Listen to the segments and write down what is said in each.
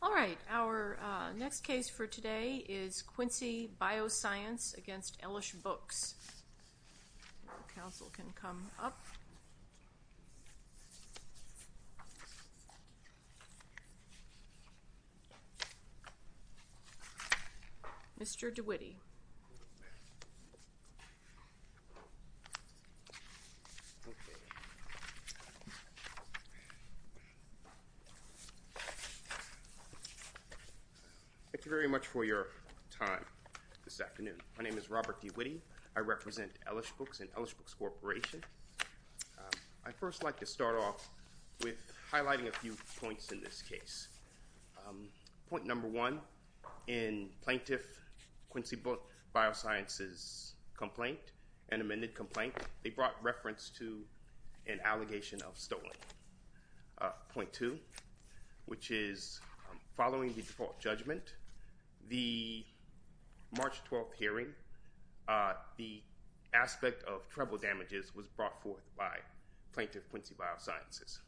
All right, our next case for today is Quincy Bioscience against Ellishbooks. Council can come up. Mr. DeWitty. Thank you very much for your time this afternoon. My name is Robert DeWitty. I represent Ellishbooks and Ellishbooks Corporation. I first like to start off with highlighting a few points in this case. Point number one, in plaintiff Quincy Bioscience's complaint, an amended complaint, they brought reference to an allegation of stolen. Point two, which is following the default judgment, the March 12th hearing, the aspect of treble damages was brought forth by plaintiff Quincy Biosciences.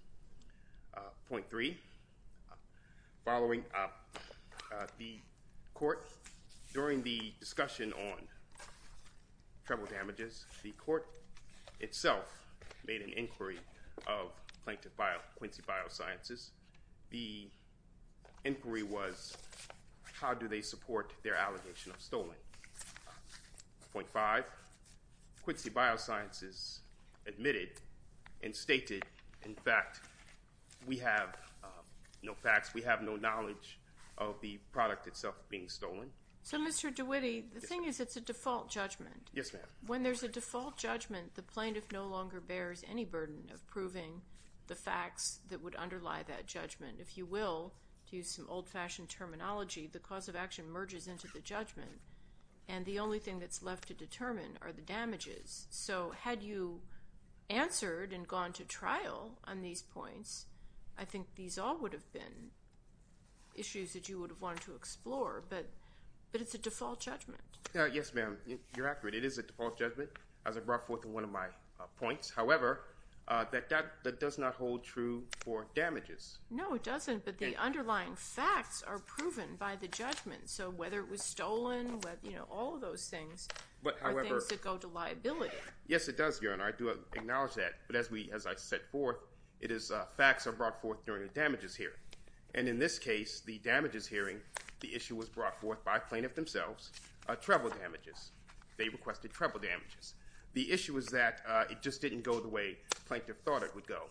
Point three, following up the court, during the discussion on treble damages, the court itself made an inquiry of plaintiff Quincy Biosciences. The inquiry was how do they support their allegation of stolen. Point five, Quincy Biosciences admitted and stated, in fact, we have no facts, we have no knowledge of the product itself being stolen. So Mr. DeWitty, the thing is it's a default judgment. Yes ma'am. When there's a default judgment, the plaintiff no longer bears any burden of proving the facts that would underlie that judgment. If you will, to use some old-fashioned terminology, the cause of action merges into the judgment and the only thing that's left to determine are the damages. So had you answered and gone to trial on these points, I think these all would have been issues that you would have wanted to explore, but it's a default judgment. Yes ma'am, you're accurate. It is a default judgment. As I said, there are points, however, that does not hold true for damages. No, it doesn't, but the underlying facts are proven by the judgment. So whether it was stolen, you know, all of those things are things that go to liability. Yes it does, Your Honor, I do acknowledge that, but as I said before, facts are brought forth during a damages hearing. And in this case, the damages hearing, the issue was brought forth by plaintiff themselves, treble damages. They requested treble just didn't go the way the plaintiff thought it would go.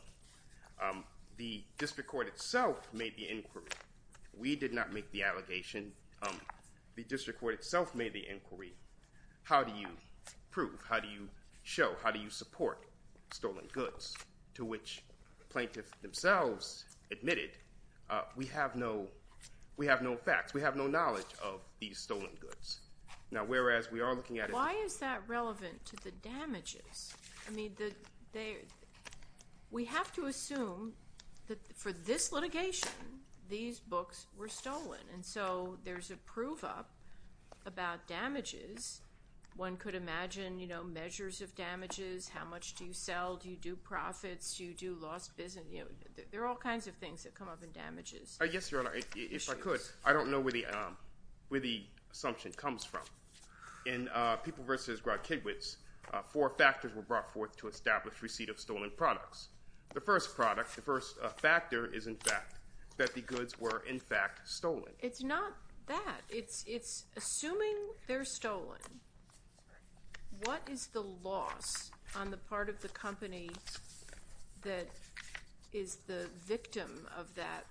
The district court itself made the inquiry. We did not make the allegation. The district court itself made the inquiry. How do you prove? How do you show? How do you support stolen goods? To which plaintiff themselves admitted, we have no, we have no facts. We have no knowledge of these stolen goods. Now, whereas we are looking at it. Why is that we have to assume that for this litigation, these books were stolen. And so there's a prove-up about damages. One could imagine, you know, measures of damages. How much do you sell? Do you do profits? Do you do lost business? You know, there are all kinds of things that come up in damages. Yes, Your Honor, if I could, I don't know where the assumption comes from. In People v. Grodd-Kidwitz, four factors were brought forth to establish receipt of stolen products. The first product, the first factor is, in fact, that the goods were, in fact, stolen. It's not that. It's assuming they're stolen. What is the loss on the part of the company that is the victim of that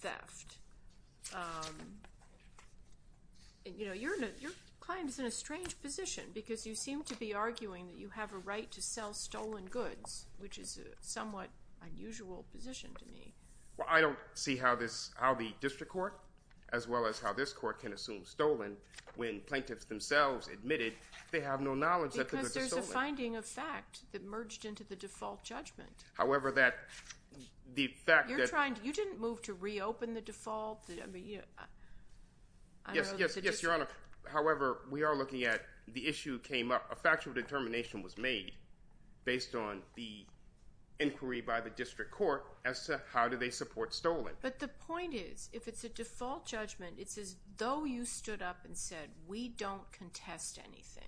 theft? You know, your client is in a position to be arguing that you have a right to sell stolen goods, which is a somewhat unusual position to me. Well, I don't see how this, how the district court, as well as how this court, can assume stolen when plaintiffs themselves admitted they have no knowledge that the goods were stolen. Because there's a finding of fact that merged into the default judgment. However, that, the fact that. You're trying, you didn't move to reopen the default. Yes, yes, yes, Your Honor. However, we are looking at, the issue came up, a factual determination was made based on the inquiry by the district court as to how do they support stolen. But the point is, if it's a default judgment, it's as though you stood up and said, we don't contest anything.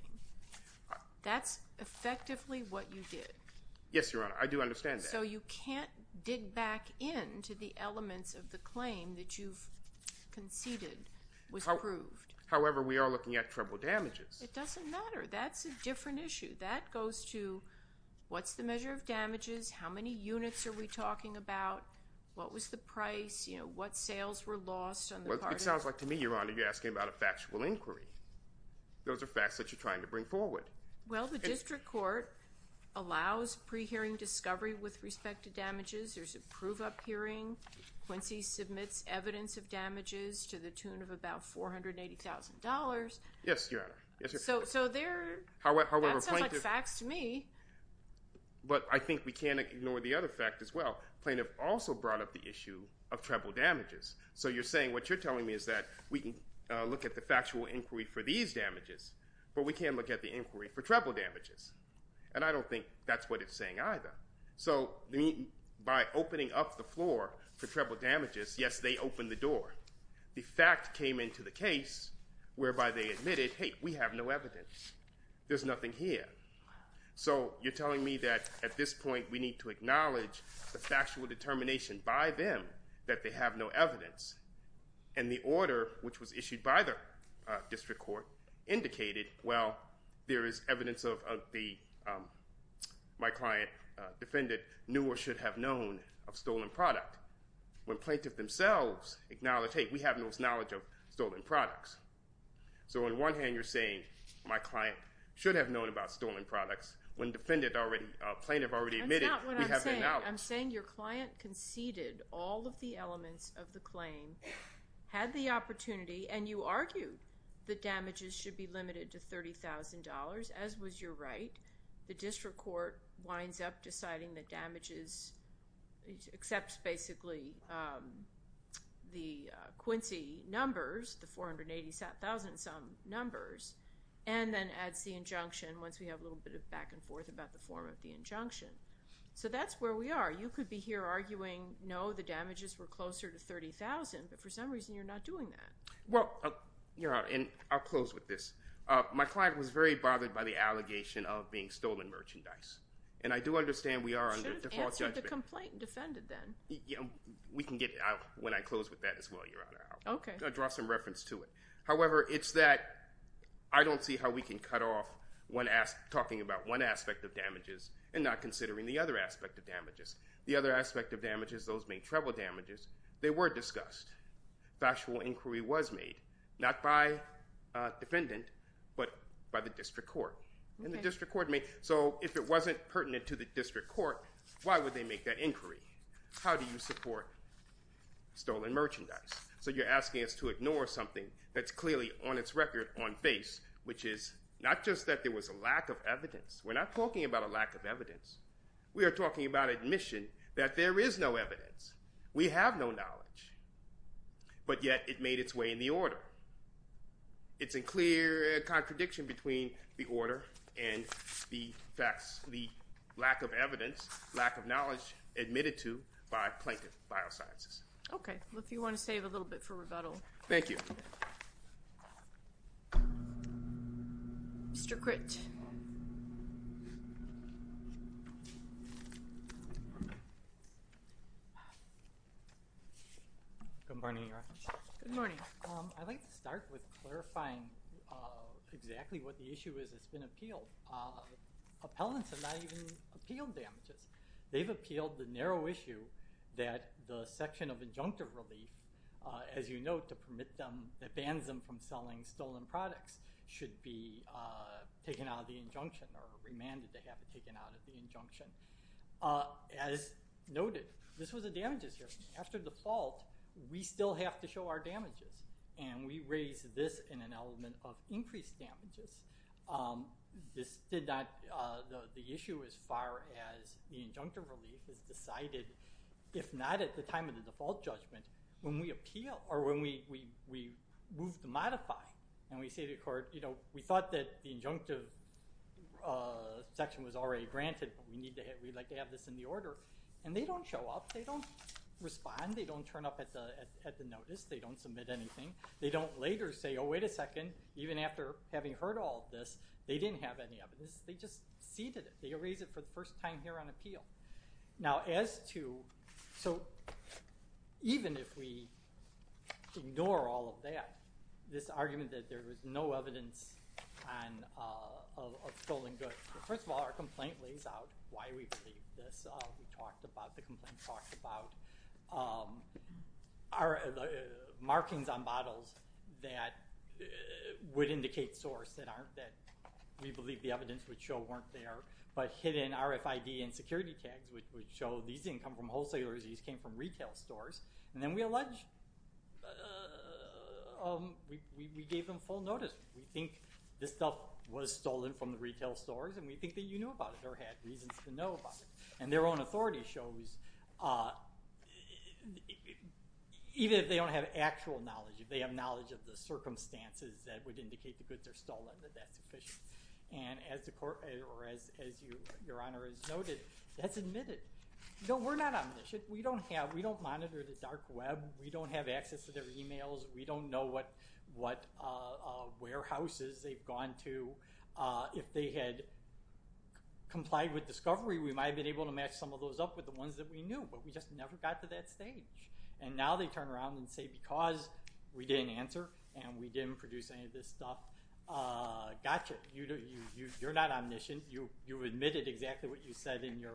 That's effectively what you did. Yes, Your Honor, I do understand that. So you can't dig back into the elements of the claim that you've conceded was proved. However, we are looking at treble damages. It doesn't matter. That's a different issue. That goes to, what's the measure of damages, how many units are we talking about, what was the price, you know, what sales were lost. Well, it sounds like to me, Your Honor, you're asking about a factual inquiry. Those are facts that you're trying to bring forward. Well, the district court allows pre-hearing discovery with respect to damages. There's a prove-up hearing. Quincy submits evidence of damages to the tune of about $480,000. Yes, Your Honor. So there, however, that sounds like facts to me. But I think we can't ignore the other fact as well. Plaintiff also brought up the issue of treble damages. So you're saying what you're telling me is that we can look at the factual inquiry for these damages, but we can't look at the inquiry for treble damages. And I don't think that's what it's saying either. So by opening up the floor for treble damages, yes, they opened the door. The fact came into the case whereby they admitted, hey, we have no evidence. There's nothing here. So you're telling me that at this point we need to acknowledge the factual determination by them that they have no evidence. And the order which was issued by the district court indicated, well, there is evidence of the, my client defended, knew or should have known of stolen product. When plaintiff themselves acknowledge, hey, we have no knowledge of stolen products. So on one hand, you're saying my client should have known about stolen products. When defendant already, plaintiff already admitted, we have no knowledge. I'm saying your client conceded all of the elements of the claim, had the opportunity, and you argue the damages should be limited to $30,000, as was your right. The district court winds up deciding the damages except basically the Quincy numbers, the $480,000 some numbers, and then adds the injunction once we have a little bit of back and forth about the form of the injunction. So that's where we are. You could be here arguing, no, the damages were closer to $30,000, but for some reason you're not doing that. Well, you know, and I'll close with this. My client was very bothered by the allegation of being stolen merchandise. And I do understand we are under default judgment. Should have answered the complaint and defended then. We can get out when I close with that as well, Your Honor. I'll draw some reference to it. However, it's that I don't see how we can cut off one aspect, talking about one aspect of damages, and not considering the other aspect of damages. The other aspect of damages, those main treble damages, they were discussed. Factual inquiry was made, not by defendant, but by the district court. And the district court, why would they make that inquiry? How do you support stolen merchandise? So you're asking us to ignore something that's clearly on its record, on base, which is not just that there was a lack of evidence. We're not talking about a lack of evidence. We are talking about admission that there is no evidence. We have no knowledge. But yet it made its way in the order. It's a clear contradiction between the order and the facts, the lack of evidence, lack of knowledge admitted to by Plankton Biosciences. Okay, well if you want to save a little bit for rebuttal. Thank you. Mr. Critt. Good morning. I'd like to start with clarifying exactly what the issue is that's been appealed. Appellants have not even appealed damages. They've appealed the narrow issue that the section of injunctive relief, as you note, to permit them, that bans them from selling stolen products, should be taken out of the injunction or remanded to have it taken out of the injunction. As noted, this was the damages here. After default, we still have to show our damages. And we raise this in an element of increased damages. This did not, the issue as far as the injunctive relief is decided, if not at the time of the default judgment, when we appeal, or when we move the modify, and we say to the court, you know, we thought that the injunctive section was already granted, but we'd like to have this in the order. And they don't show up. They don't respond. They don't turn up at the notice. They don't submit anything. They don't later say, oh wait a second, even after having heard all this, they didn't have any evidence. They just ceded it. They erase it for the first time here on appeal. Now as to, so even if we ignore all of that, this argument that there was no evidence of stolen goods, first of all, our complaint lays out why we believe this. We talked about, the complaint talked about our markings on bottles that would indicate source that aren't, that we believe the evidence would show weren't there, but hidden RFID and security tags which would show these didn't come from wholesalers, these came from retail stores, and then we allege, we gave them full notice. We think this stuff was stolen from the retail stores, and we think that you knew about it, or had reasons to know about it. And their own authority shows, even if they don't have actual knowledge, if they have knowledge of the circumstances that would indicate the goods are stolen, that that's sufficient. And as the court, or as your Honor has noted, that's admitted. No, we're not omniscient. We don't have, we don't monitor the dark web. We don't have access to their emails. We don't know what warehouses they've gone to. If they had complied with discovery, we might have been able to match some of those up with the ones that we knew, but we just never got to that stage. And now they turn around and say because we didn't answer, and we didn't produce any of this stuff, gotcha. You're not omniscient. You admitted exactly what you said in your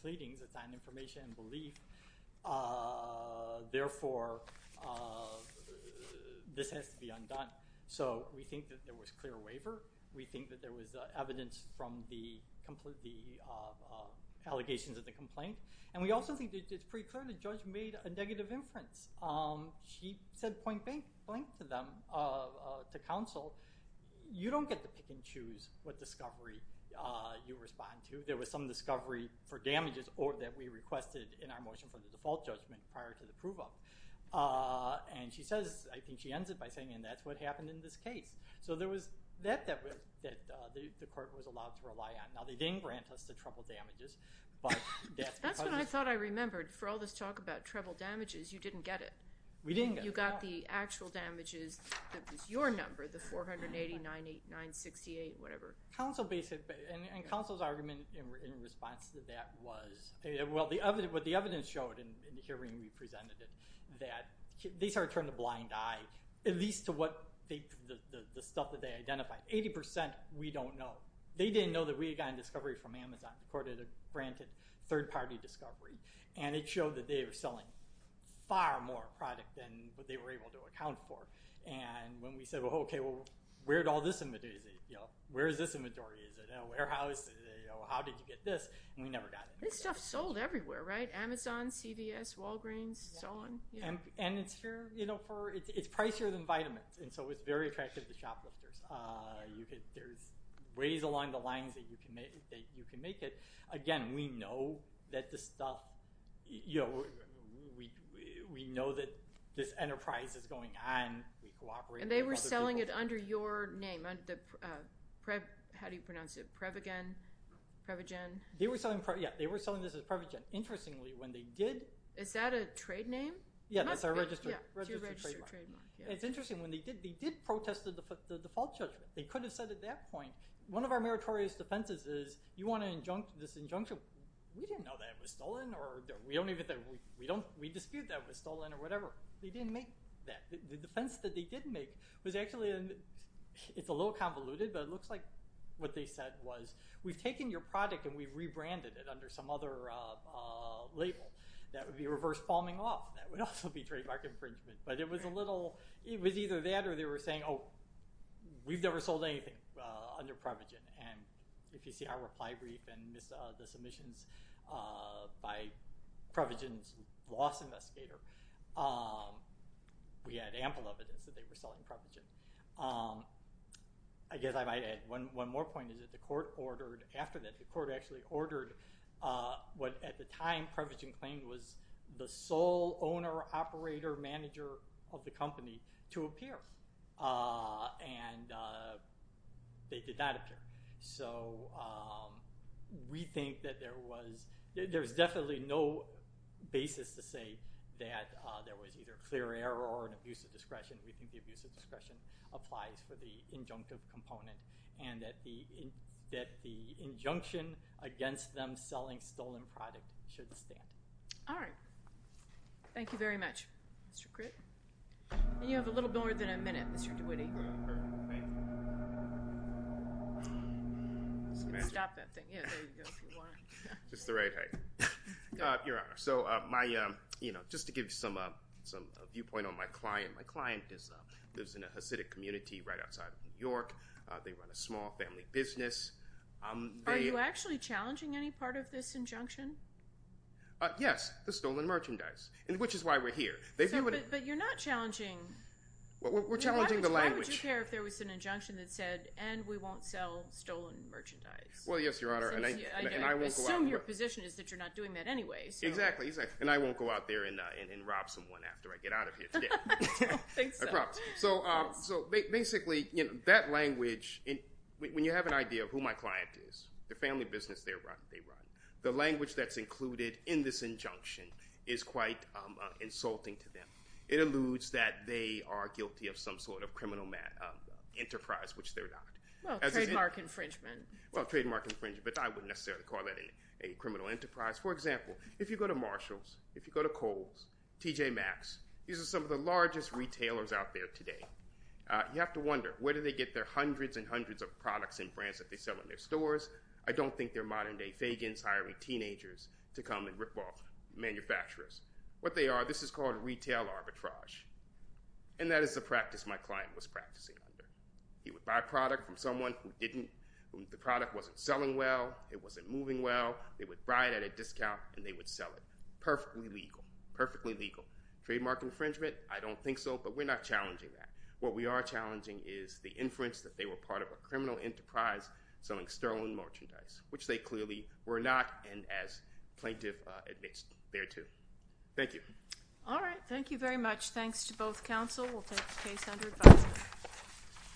pleadings. It's on information and belief. Therefore, this has to be undone. So we think that there was clear waiver. We think that there was evidence from the allegations of the complaint, and we also think it's pretty clear the judge made a negative inference. She said point-blank to them, to counsel. You don't get to pick and you respond to. There was some discovery for damages or that we requested in our motion for the default judgment prior to the prove-up. And she says, I think she ends it by saying, and that's what happened in this case. So there was that that the court was allowed to rely on. Now they didn't grant us the treble damages. That's what I thought I remembered. For all this talk about treble damages, you didn't get it. We didn't. You got the actual damages. That was your number, the 480-968, whatever. Counsel's argument in response to that was, well, what the evidence showed in the hearing we presented it, that they started to turn a blind eye, at least to the stuff that they identified. Eighty percent we don't know. They didn't know that we had gotten discovery from Amazon. The court had granted third-party discovery, and it showed that they were selling far more product than what they were able to sell. So we thought, okay, well, where'd all this inventory? Where is this inventory? Is it in a warehouse? How did you get this? And we never got it. This stuff sold everywhere, right? Amazon, CVS, Walgreens, so on. And it's here, you know, it's pricier than vitamins. And so it's very attractive to shoplifters. There's ways along the lines that you can make it. Again, we know that this stuff, you know, we know that this enterprise is going on. And they were selling it under your name, under the, how do you pronounce it, Prevagen? They were selling, yeah, they were selling this as Prevagen. Interestingly, when they did, is that a trade name? Yeah, that's our registered trademark. It's interesting, when they did, they did protest the default judgment. They could have said at that point, one of our meritorious defenses is, you want to injunct, this injunction, we didn't know that it was stolen, or we don't even think, we dispute that it was stolen or whatever. They didn't make that. The defense that they did make was actually, it's a little convoluted, but it looks like what they said was, we've taken your product and we've rebranded it under some other label. That would be reverse palming off. That would also be trademark infringement. But it was a little, it was either that or they were saying, oh, we've never sold anything under Prevagen. And if you see our reply brief and the submissions by Prevagen's loss investigator, we had ample evidence that they were selling Prevagen. I guess I might add one more point, is that the court ordered after that, the court actually ordered what at the time Prevagen claimed was the sole owner, operator, manager of the company to appear. And they did not appear. So we think that there was, there was definitely no basis to say that there was either clear error or an abuse of discretion. We think the abuse of discretion applies for the injunctive component and that the injunction against them selling stolen product should stand. All right. Thank you very much, Mr. Gritt. And you have a little bit more than a minute, Mr. DeWitty. Stop that thing. Yeah, there you go if you want. Just the right height. Your Honor, so my, you know, just to give you some, some viewpoint on my client, my client is, lives in a Hasidic community right outside of New York. They run a small family business. Are you actually challenging any part of this injunction? Yes. The stolen merchandise, which is why we're here. But you're not challenging. We're challenging the language. Why would you care if there was an injunction that said, and we won't sell stolen merchandise? Well, yes, Your Honor. And I assume your position is that you're not doing that anyway. Exactly. And I won't go out there and rob someone after I get out of here today. So, so basically, you know, that language, when you have an idea of who my client is, the family business they run, the language that's included in this injunction is quite insulting to them. It alludes that they are guilty of some sort of criminal enterprise, which they're not. Well, trademark infringement. Well, trademark infringement, but I wouldn't necessarily call that a criminal enterprise. For example, if you go to Marshalls, if you go to Kohl's, TJ Maxx, these are some of the largest retailers out there today. You have to wonder, where do they get their hundreds and hundreds of products and brands that they sell in their stores? I don't think they're This is called retail arbitrage. And that is the practice my client was practicing under. He would buy a product from someone who didn't, the product wasn't selling well, it wasn't moving well, they would buy it at a discount and they would sell it. Perfectly legal. Perfectly legal. Trademark infringement, I don't think so, but we're not challenging that. What we are challenging is the inference that they were part of a criminal enterprise selling stolen merchandise, which they clearly were not, and as plaintiff admits, they're too. Thank you. All right. Thank you very much. Thanks to both counsel. We'll take the case under advice.